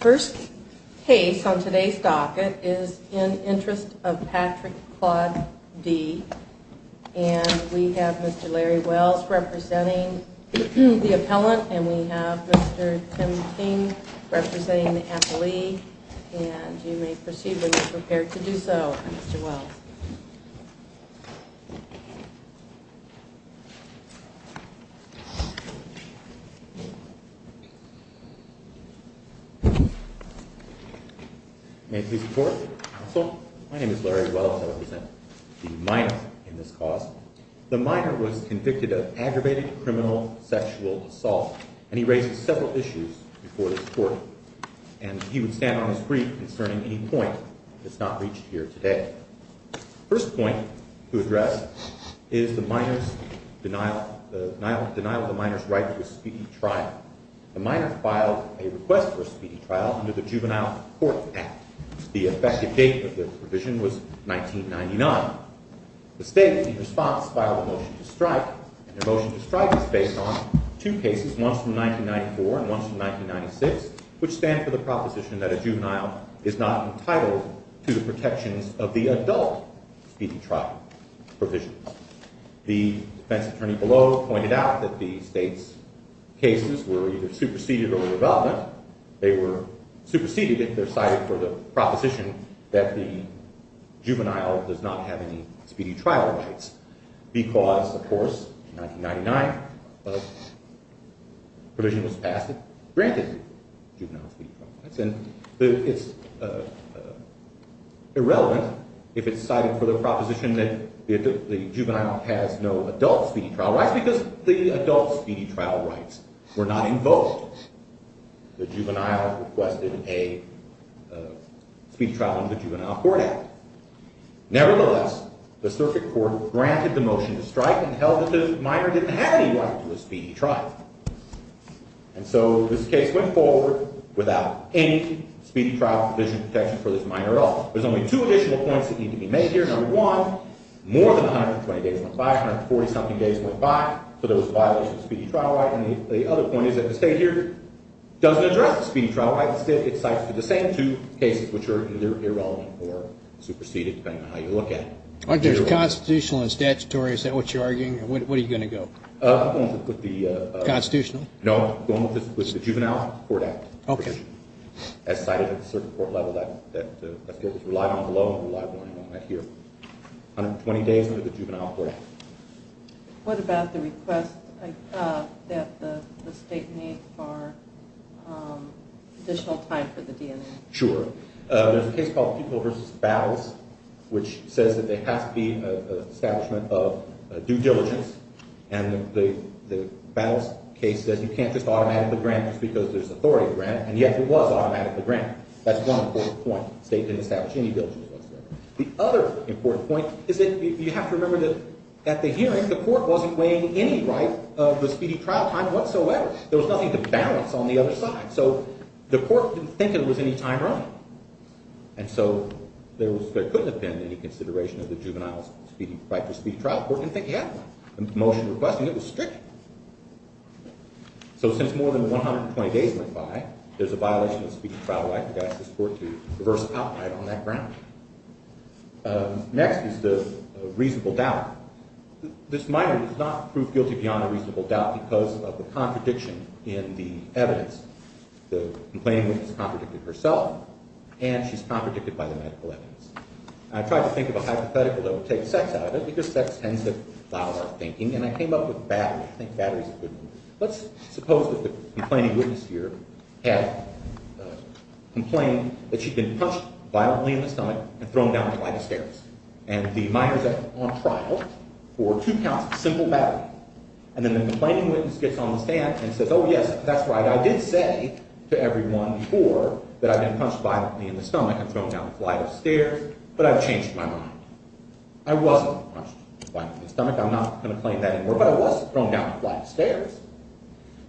First case on today's docket is In Interest of Patrick Claude D. And we have Mr. Larry Wells representing the appellant and we have Mr. Tim King representing the appellee. And you may proceed when you're prepared to do so, Mr. Wells. May I please report, counsel? My name is Larry Wells. I represent the minor in this cause. The minor was convicted of aggravated criminal sexual assault and he raised several issues before this court. And he would stand on his feet concerning any point that's not reached here today. First point to address is the minor's denial of the minor's right to a speedy trial. The minor filed a request for a speedy trial under the Juvenile Courts Act. The effective date of the provision was 1999. The state, in response, filed a motion to strike. And the motion to strike is based on two cases, one from 1994 and one from 1996, which stand for the proposition that a juvenile is not entitled to the protections of the adult speedy trial provisions. The defense attorney below pointed out that the state's cases were either superseded or irrelevant. They were superseded if they're cited for the proposition that the juvenile does not have any speedy trial rights. Because, of course, in 1999 a provision was passed that granted juvenile speedy trial rights. And it's irrelevant if it's cited for the proposition that the juvenile has no adult speedy trial rights, because the adult speedy trial rights were not invoked. The juvenile requested a speedy trial under the Juvenile Court Act. Nevertheless, the circuit court granted the motion to strike and held that the minor didn't have any right to a speedy trial. And so this case went forward without any speedy trial provision protection for this minor at all. There's only two additional points that need to be made here. Number one, more than 120 days went by. 140-something days went by. So there was a violation of the speedy trial right. And the other point is that the state here doesn't address the speedy trial right. Instead, it cites for the same two cases, which are either irrelevant or superseded, depending on how you look at it. Aren't those constitutional and statutory? Is that what you're arguing? What are you going to go? Constitutional? No. Going with the Juvenile Court Act. Okay. As cited at the circuit court level, that was relied on below and relied on here. 120 days under the Juvenile Court Act. What about the request that the state need for additional time for the DNA? Sure. There's a case called Pupil v. Battles, which says that there has to be an establishment of due diligence and the Battles case says you can't just automatically grant just because there's authority to grant. And yet, it was automatically granted. That's one important point. The state didn't establish any due diligence whatsoever. The other important point is that you have to remember that at the hearing, the court wasn't weighing any right of the speedy trial time whatsoever. There was nothing to balance on the other side. So the court didn't think there was any time running. And so there couldn't have been any consideration of the juvenile's right to speedy trial. The court didn't think he had one. The motion requesting it was strict. So since more than 120 days went by, there's a violation of speedy trial right. We've got to ask this court to reverse outright on that ground. Next is the reasonable doubt. This minor does not prove guilty beyond a reasonable doubt because of the contradiction in the evidence. The complainant has contradicted herself, and she's contradicted by the medical evidence. I tried to think of a hypothetical that would take sex out of it because sex tends to foul our thinking. And I came up with battery. I think battery's a good one. Let's suppose that the complaining witness here had complained that she'd been punched violently in the stomach and thrown down the flight of stairs. And the minor's on trial for two counts of simple battery. And then the complaining witness gets on the stand and says, oh, yes, that's right. But I've changed my mind. I wasn't punched violently in the stomach. I'm not going to claim that anymore. But I was thrown down the flight of stairs.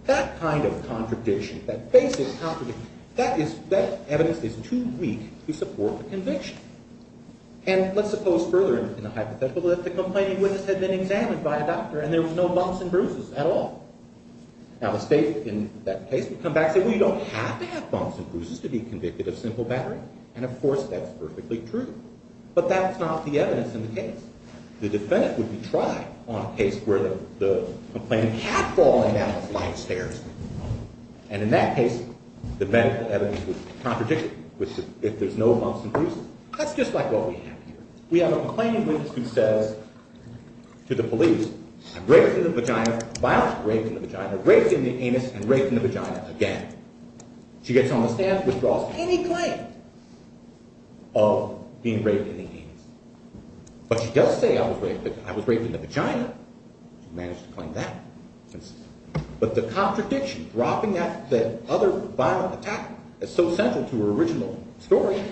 That kind of contradiction, that basic contradiction, that evidence is too weak to support the conviction. And let's suppose further in the hypothetical that the complaining witness had been examined by a doctor and there was no bumps and bruises at all. Now the state in that case would come back and say, well, you don't have to have bumps and bruises to be convicted of simple battery. And, of course, that's perfectly true. But that's not the evidence in the case. The defendant would be tried on a case where the complaining had fallen down the flight of stairs. And in that case, the medical evidence would contradict it. If there's no bumps and bruises, that's just like what we have here. We have a complaining witness who says to the police, I've raped in the vagina, violently raped in the vagina, raped in the anus, and raped in the vagina again. She gets on the stand, withdraws any claim of being raped in the anus. But she does say I was raped in the vagina. She managed to claim that. But the contradiction, dropping that other violent attack that's so central to her original story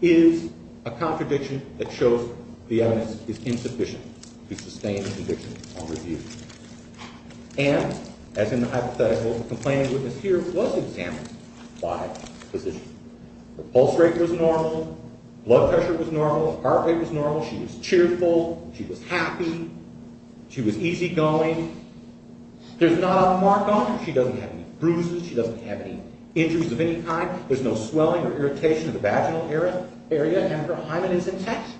is a contradiction that shows the evidence is insufficient to sustain the conviction on review. And, as in the hypothetical complaining witness here, was examined by physicians. Her pulse rate was normal. Blood pressure was normal. Heart rate was normal. She was cheerful. She was happy. She was easygoing. There's not a mark on her. She doesn't have any bruises. She doesn't have any injuries of any kind. There's no swelling or irritation of the vaginal area. And her hymen is intact.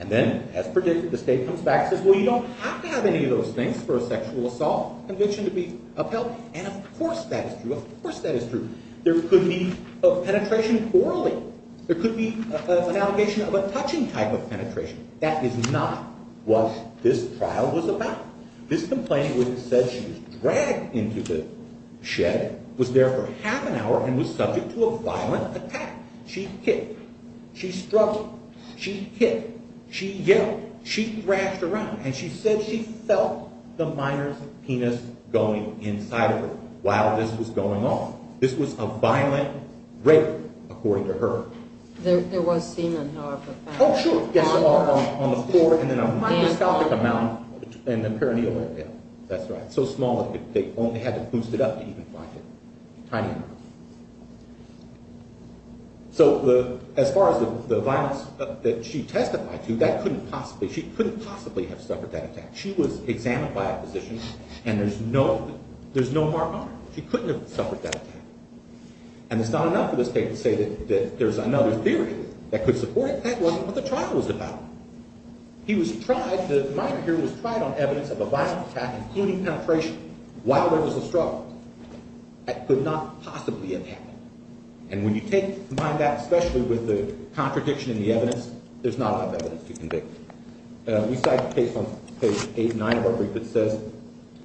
And then, as predicted, the state comes back and says, well, you don't have to have any of those things for a sexual assault conviction to be upheld. And of course that is true. Of course that is true. There could be a penetration orally. There could be an allegation of a touching type of penetration. That is not what this trial was about. This complaining witness said she was dragged into the shed, was there for half an hour, and was subject to a violent attack. She hit her. She struck her. She hit. She yelled. She thrashed around. And she said she felt the minor's penis going inside of her while this was going on. This was a violent rape, according to her. There was semen, however, found. Oh, sure. Yes, on the floor and then a microscopic amount in the perineum area. That's right. So small that they only had to boost it up to even find it. Tiny enough. So as far as the violence that she testified to, she couldn't possibly have suffered that attack. She was examined by a physician, and there's no mark on her. She couldn't have suffered that attack. And it's not enough for this case to say that there's another theory that could support it. That wasn't what the trial was about. The minor here was tried on evidence of a violent attack, including penetration, while there was a struggle. That could not possibly have happened. And when you combine that, especially with the contradiction in the evidence, there's not enough evidence to convict her. We cite a case on page 8 and 9 of our brief that says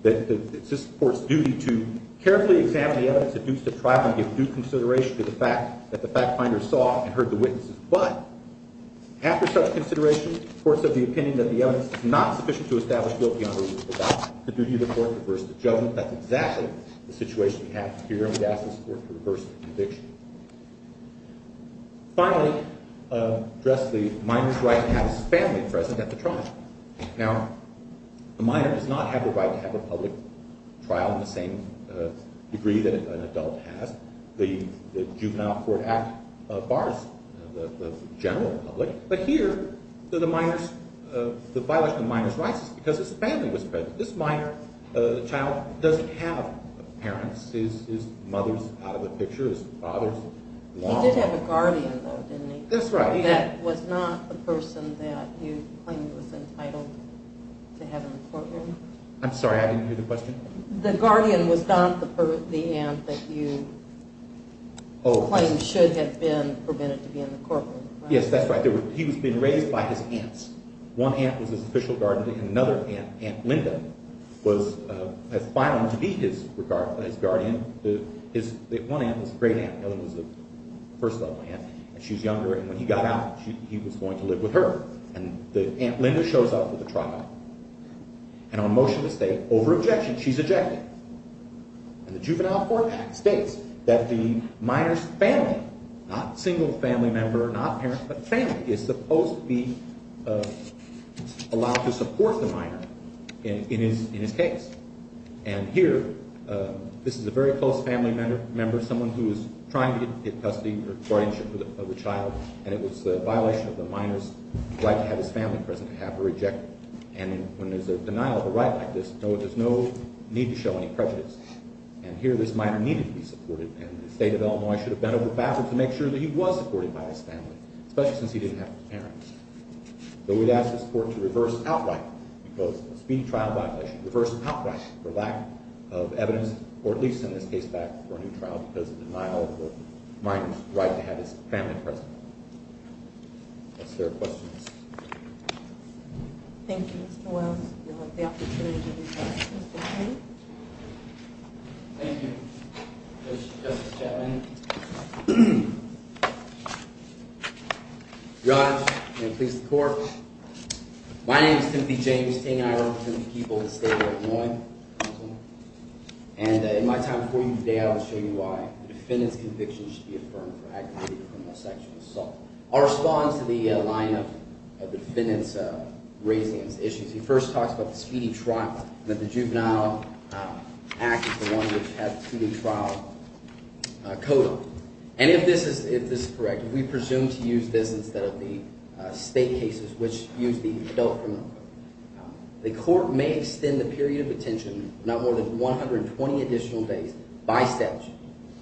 that it's this court's duty to carefully examine the evidence that dukes to trial and give due consideration to the fact that the fact finder saw and heard the witnesses. But after such consideration, the courts have the opinion that the evidence is not sufficient to establish guilt beyond a reasonable doubt. The duty of the court to reverse the judgment. That's exactly the situation we have here, and we ask this court to reverse the conviction. Finally, address the minor's right to have his family present at the trial. Now, the minor does not have the right to have a public trial in the same degree that an adult has. The Juvenile Court Act bars the general public, but here the violation of the minor's rights is because his family was present. This minor child doesn't have parents. His mother's out of the picture. His father's lost. He did have a guardian, though, didn't he? That's right. That was not the person that you claimed was entitled to have in the courtroom? I'm sorry, I didn't hear the question. The guardian was not the aunt that you claimed should have been permitted to be in the courtroom, right? Yes, that's right. He was being raised by his aunts. One aunt was his official guardian, and another aunt, Aunt Linda, was as violent to be his guardian. One aunt was a great aunt. The other was a first-level aunt, and she was younger, and when he got out, he was going to live with her. And Aunt Linda shows up at the trial, and on motion to stay, over objection, she's ejected. And the Juvenile Court Act states that the minor's family, not single family member, not parents, but family, is supposed to be allowed to support the minor in his case. And here, this is a very close family member, someone who is trying to get custody or guardianship of the child, and it was the violation of the minor's right to have his family present to have her ejected. And when there's a denial of a right like this, there's no need to show any prejudice. And here, this minor needed to be supported, and the state of Illinois should have bent over backwards to make sure that he was supported by his family, especially since he didn't have his parents. So we'd ask this court to reverse outright because of a speeding trial violation, reverse outright for lack of evidence, or at least send his case back for a new trial because of denial of the minor's right to have his family present. Are there questions? Thank you, Mr. Wells. I'd like the opportunity to request Mr. King. Thank you, Justice Chapman. Your Honor, and please, the court. My name is Timothy James King. I represent the people of the state of Illinois. And in my time before you today, I will show you why the defendant's conviction should be affirmed for aggravated criminal sexual assault. I'll respond to the line of the defendant's raising of his issues. He first talks about the speeding trial, that the juvenile act is the one which has the speeding trial code on it. And if this is correct, if we presume to use this instead of the state cases which use the adult criminal code, the court may extend the period of detention not more than 120 additional days by statute.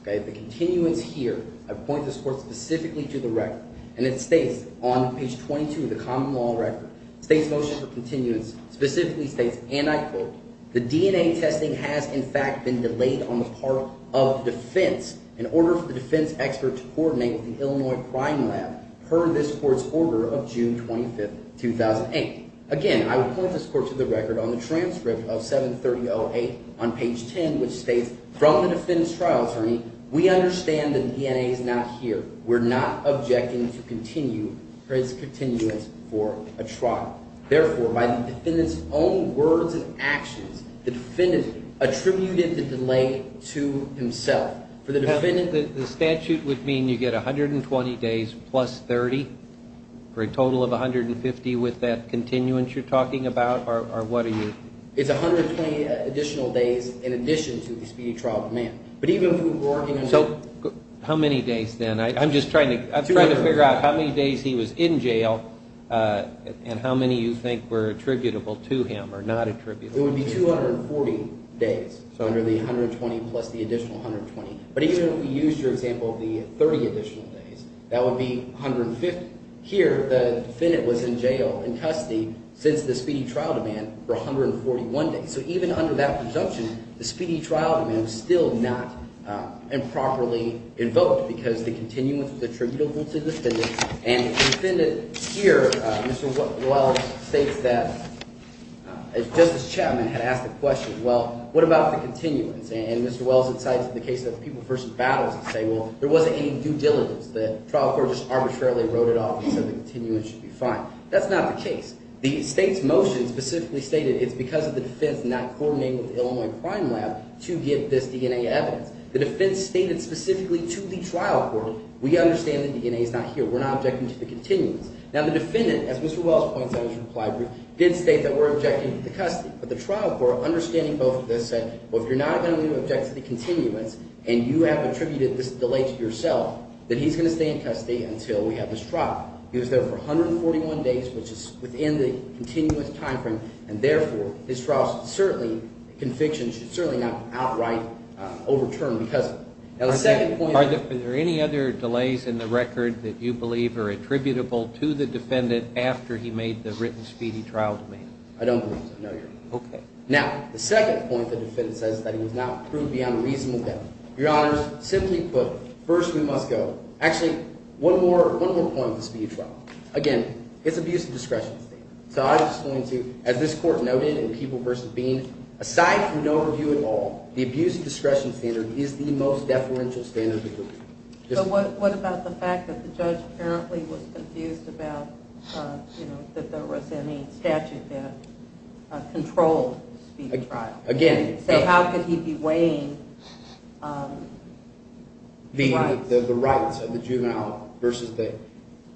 The continuance here, I point this court specifically to the record, and it states on page 22 of the common law record, the state's motion for continuance specifically states, and I quote, the DNA testing has in fact been delayed on the part of defense in order for the defense expert to coordinate with the Illinois Crime Lab per this court's order of June 25, 2008. Again, I would point this court to the record on the transcript of 73008 on page 10, which states, from the defense trial attorney, we understand that DNA is not here. We're not objecting to continue or its continuance for a trial. Therefore, by the defendant's own words and actions, the defendant attributed the delay to himself. The statute would mean you get 120 days plus 30 for a total of 150 with that continuance you're talking about, or what are you? It's 120 additional days in addition to the speeding trial demand. So how many days then? I'm just trying to figure out how many days he was in jail and how many you think were attributable to him or not attributable to him. It would be 240 days under the 120 plus the additional 120. But even if we used, for example, the 30 additional days, that would be 150. Here, the defendant was in jail in custody since the speedy trial demand for 141 days. So even under that presumption, the speedy trial demand was still not improperly invoked because the continuance was attributable to the defendant. And the defendant here, Mr. Wells, states that Justice Chapman had asked the question, well, what about the continuance? And Mr. Wells cites the case of the people versus battles and say, well, there wasn't any due diligence. The trial court just arbitrarily wrote it off and said the continuance should be fine. That's not the case. The state's motion specifically stated it's because of the defense not coordinating with the Illinois Prime Lab to give this DNA evidence. The defense stated specifically to the trial court, we understand the DNA is not here. We're not objecting to the continuance. Now, the defendant, as Mr. Wells points out in his reply brief, did state that we're objecting to the custody. But the trial court, understanding both of this, said, well, if you're not going to object to the continuance and you have attributed this delay to yourself, then he's going to stay in custody until we have this trial. He was there for 141 days, which is within the continuance time frame. And therefore, his trial should certainly – convictions should certainly not be outright overturned because of it. Now, the second point – Are there any other delays in the record that you believe are attributable to the defendant after he made the written speedy trial demand? I don't believe so, no, Your Honor. Okay. Now, the second point the defendant says is that he was not proved beyond a reasonable doubt. Your Honors, simply put, first we must go – actually, one more point. Again, it's abuse of discretion. So I'm just going to – as this Court noted in Peeble v. Bean, aside from no review at all, the abuse of discretion standard is the most deferential standard we believe. But what about the fact that the judge apparently was confused about, you know, that there was any statute that controlled the speedy trial? Again – So how could he be weighing the rights?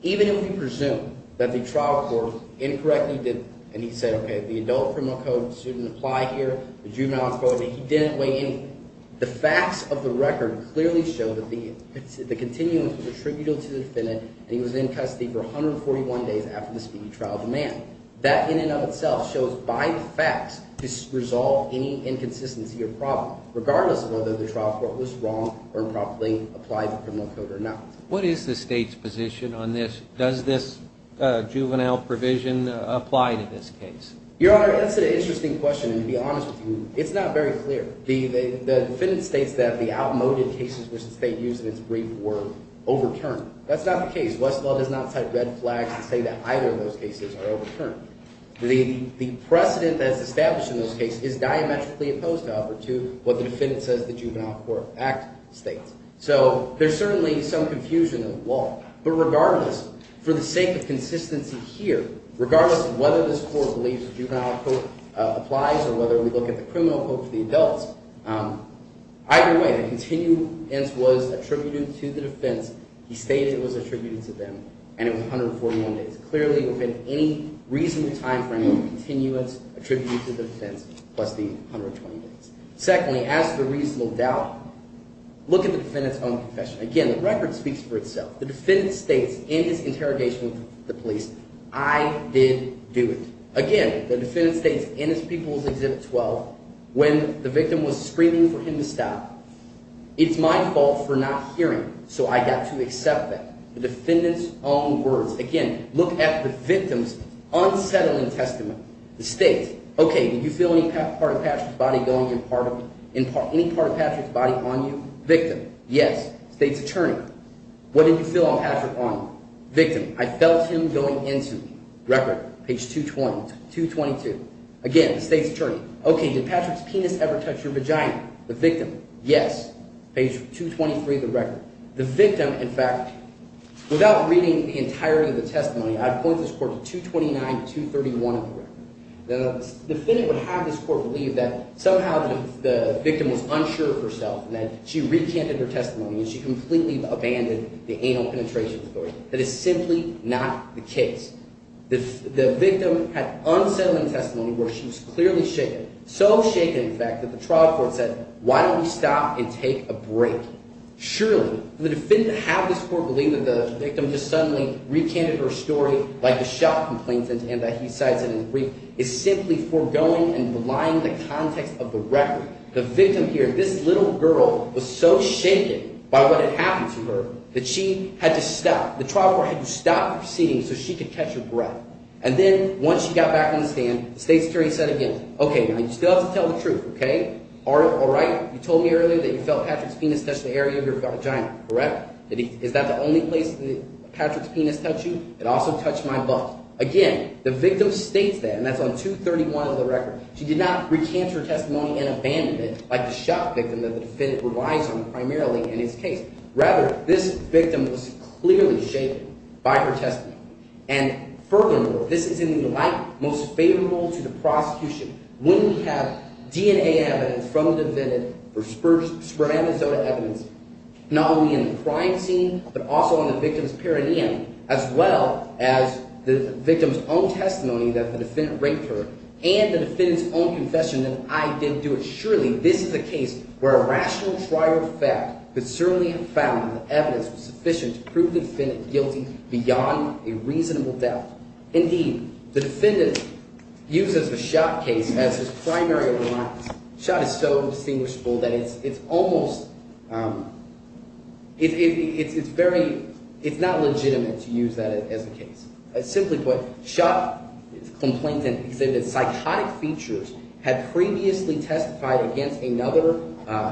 Even if we presume that the trial court incorrectly did – and he said, okay, the adult criminal code shouldn't apply here, the juvenile code – he didn't weigh any. The facts of the record clearly show that the continuance was attributable to the defendant, and he was in custody for 141 days after the speedy trial demand. That in and of itself shows by the facts to resolve any inconsistency or problem, regardless of whether the trial court was wrong or improperly applied the criminal code or not. What is the State's position on this? Does this juvenile provision apply to this case? Your Honor, that's an interesting question, and to be honest with you, it's not very clear. The defendant states that the outmoded cases which the State used in its brief were overturned. That's not the case. Westlaw does not cite red flags and say that either of those cases are overturned. The precedent that's established in those cases is diametrically opposed, however, to what the defendant says the Juvenile Court Act states. So there's certainly some confusion in the law, but regardless, for the sake of consistency here, regardless of whether this court believes the juvenile code applies or whether we look at the criminal code for the adults, either way, the continuance was attributed to the defense. He stated it was attributed to them, and it was 141 days. Clearly, within any reasonable time frame, the continuance attributed to the defense plus the 120 days. Secondly, as to the reasonable doubt, look at the defendant's own confession. Again, the record speaks for itself. The defendant states in his interrogation with the police, I did do it. Again, the defendant states in his People's Exhibit 12 when the victim was screaming for him to stop, it's my fault for not hearing, so I got to accept that. The defendant's own words. Again, look at the victim's unsettling testament. The State, okay, did you feel any part of Patrick's body going in part of – any part of Patrick's body on you? Victim, yes. State's attorney, what did you feel on Patrick on you? Victim, I felt him going into me. Record, page 220, 222. Again, the State's attorney, okay, did Patrick's penis ever touch your vagina? The victim, yes. Page 223 of the record. The victim, in fact, without reading the entirety of the testimony, I'd point this court to 229, 231 of the record. The defendant would have this court believe that somehow the victim was unsure of herself and that she recanted her testimony and she completely abandoned the anal penetration authority. That is simply not the case. The victim had unsettling testimony where she was clearly shaken, so shaken, in fact, that the trial court said, why don't we stop and take a break? Surely, for the defendant to have this court believe that the victim just suddenly recanted her story like a shop complainant and that he cites it in the brief is simply foregoing and belying the context of the record. The victim here, this little girl, was so shaken by what had happened to her that she had to stop. The trial court had to stop the proceedings so she could catch her breath. And then once she got back on the stand, the State's attorney said again, okay, now, you still have to tell the truth, okay? All right, you told me earlier that you felt Patrick's penis touch the area of your vagina, correct? Is that the only place that Patrick's penis touched you? It also touched my butt. Again, the victim states that, and that's on 231 of the record. She did not recant her testimony and abandon it like the shop victim that the defendant relies on primarily in this case. Rather, this victim was clearly shaken by her testimony. And furthermore, this is in the light most favorable to the prosecution. When we have DNA evidence from the defendant or superamazonic evidence not only in the crime scene but also in the victim's perineum as well as the victim's own testimony that the defendant raped her and the defendant's own confession that I didn't do it. Surely this is a case where a rational trial fact could certainly have found that the evidence was sufficient to prove the defendant guilty beyond a reasonable doubt. Indeed, the defendant uses the Schott case as his primary one. Schott is so indistinguishable that it's almost – it's very – it's not legitimate to use that as a case. Simply put, Schott, the complainant, exhibited psychotic features, had previously testified against another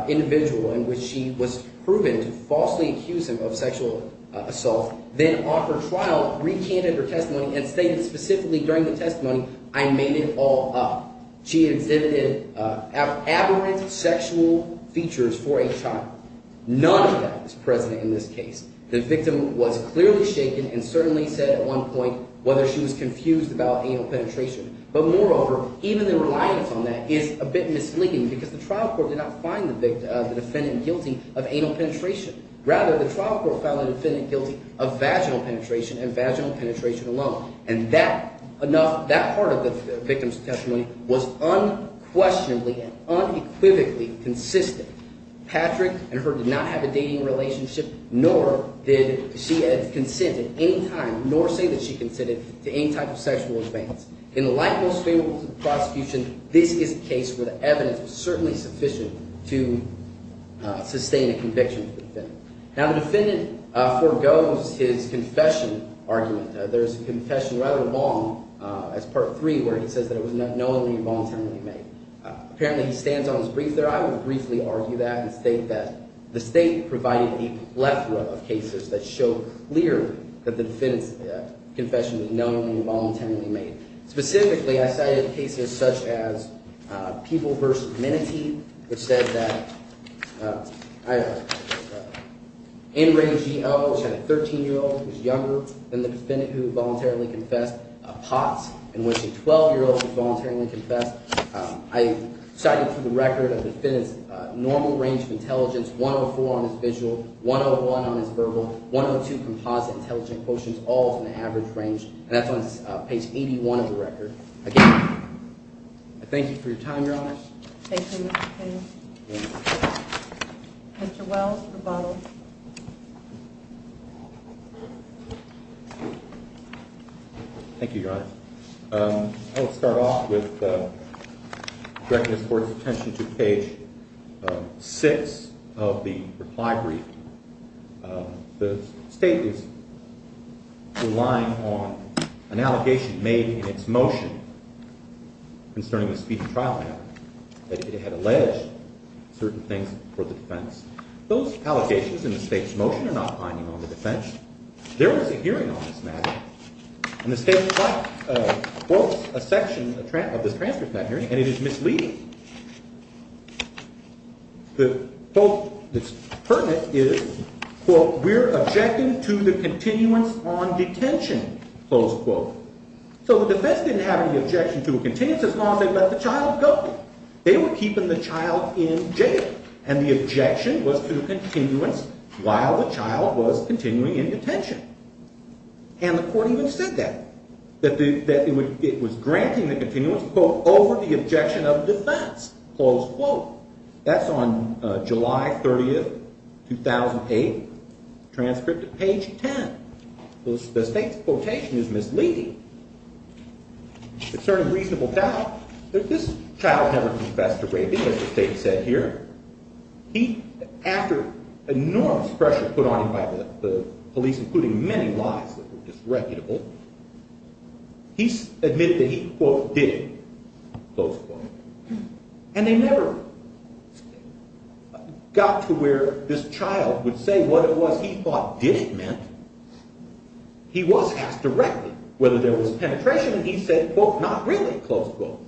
individual in which she was proven to falsely accuse him of sexual assault, then on her trial recanted her testimony and stated specifically during the testimony, I made it all up. She exhibited aberrant sexual features for a child. None of that is present in this case. The victim was clearly shaken and certainly said at one point whether she was confused about anal penetration. But moreover, even the reliance on that is a bit misleading because the trial court did not find the defendant guilty of anal penetration. Rather, the trial court found the defendant guilty of vaginal penetration and vaginal penetration alone, and that part of the victim's testimony was unquestionably and unequivocally consistent. Patrick and her did not have a dating relationship, nor did she consent at any time, nor say that she consented to any type of sexual advance. In the light most favorable to the prosecution, this is a case where the evidence was certainly sufficient to sustain a conviction for the defendant. Now, the defendant forgoes his confession argument. There's a confession rather long as part three where he says that it was not knowingly or voluntarily made. Apparently, he stands on his brief there. I would briefly argue that and state that the state provided the left row of cases that show clearly that the defendant's confession was knowingly or voluntarily made. I cited for the record the defendant's normal range of intelligence, 104 on his visual, 101 on his verbal, 102 composite intelligent quotients, all in the average range. And that's on page 81 of the record. Again, I thank you for your time, Your Honor. Thank you, Mr. King. Mr. Wells, rebuttal. Thank you, Your Honor. I will start off with directing this Court's attention to page 6 of the reply brief. The state is relying on an allegation made in its motion concerning the speeding trial matter that it had alleged certain things for the defense. Those allegations in the state's motion are not binding on the defense. There was a hearing on this matter, and the state quotes a section of this transcript of that hearing, and it is misleading. The quote that's pertinent is, quote, we're objecting to the continuance on detention, close quote. So the defense didn't have any objection to a continuance as long as they let the child go. They were keeping the child in jail, and the objection was to a continuance while the child was continuing in detention. And the Court even said that, that it was granting the continuance, quote, over the objection of defense, close quote. That's on July 30, 2008, transcript of page 10. The state's quotation is misleading. Concerning reasonable doubt, this child never confessed to raping, as the state said here. He, after enormous pressure put on him by the police, including many lies that were disreputable, he admitted that he, quote, did it, close quote. And they never got to where this child would say what it was he thought did it meant. He was asked directly whether there was penetration, and he said, quote, not really, close quote.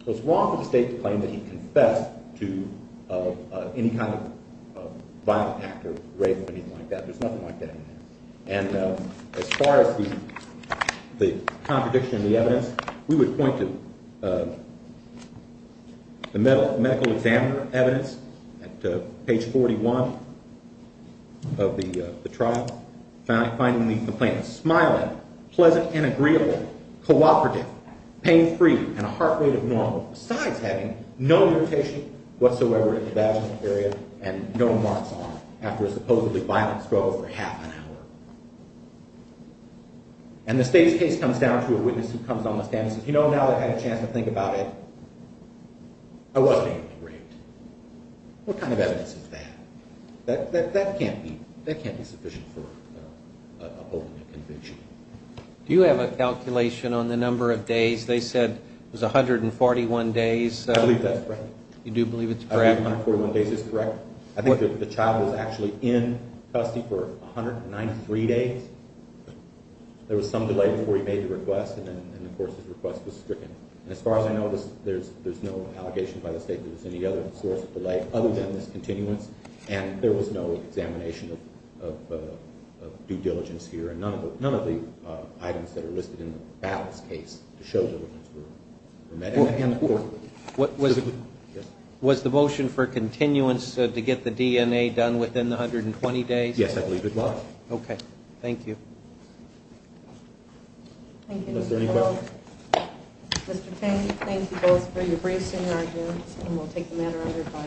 It was wrong for the state to claim that he confessed to any kind of violent act or rape or anything like that. There's nothing like that in there. And as far as the contradiction in the evidence, we would point to the medical examiner evidence at page 41 of the trial, finding the complainant smiling, pleasant and agreeable, cooperative, pain-free, and a heart rate of normal, besides having no irritation whatsoever in the vaginal area and no marks on it after a supposedly violent struggle for half an hour. And the state's case comes down to a witness who comes on the stand and says, you know, now that I've had a chance to think about it, I wasn't able to rape. What kind of evidence is that? That can't be sufficient for an opening conviction. Do you have a calculation on the number of days? They said it was 141 days. I believe that's correct. You do believe it's correct? I believe 141 days is correct. I think the child was actually in custody for 193 days. There was some delay before he made the request, and then, of course, his request was stricken. And as far as I know, there's no allegation by the state that there was any other source of delay other than this continuance, and there was no examination of due diligence here. And none of the items that are listed in the Battles case to show the witness were met. And the court? Was the motion for continuance to get the DNA done within the 120 days? Yes, I believe it was. Okay. Thank you. Thank you. Was there any questions? Mr. King, thank you both for your briefs and your arguments, and we'll take the matter under review.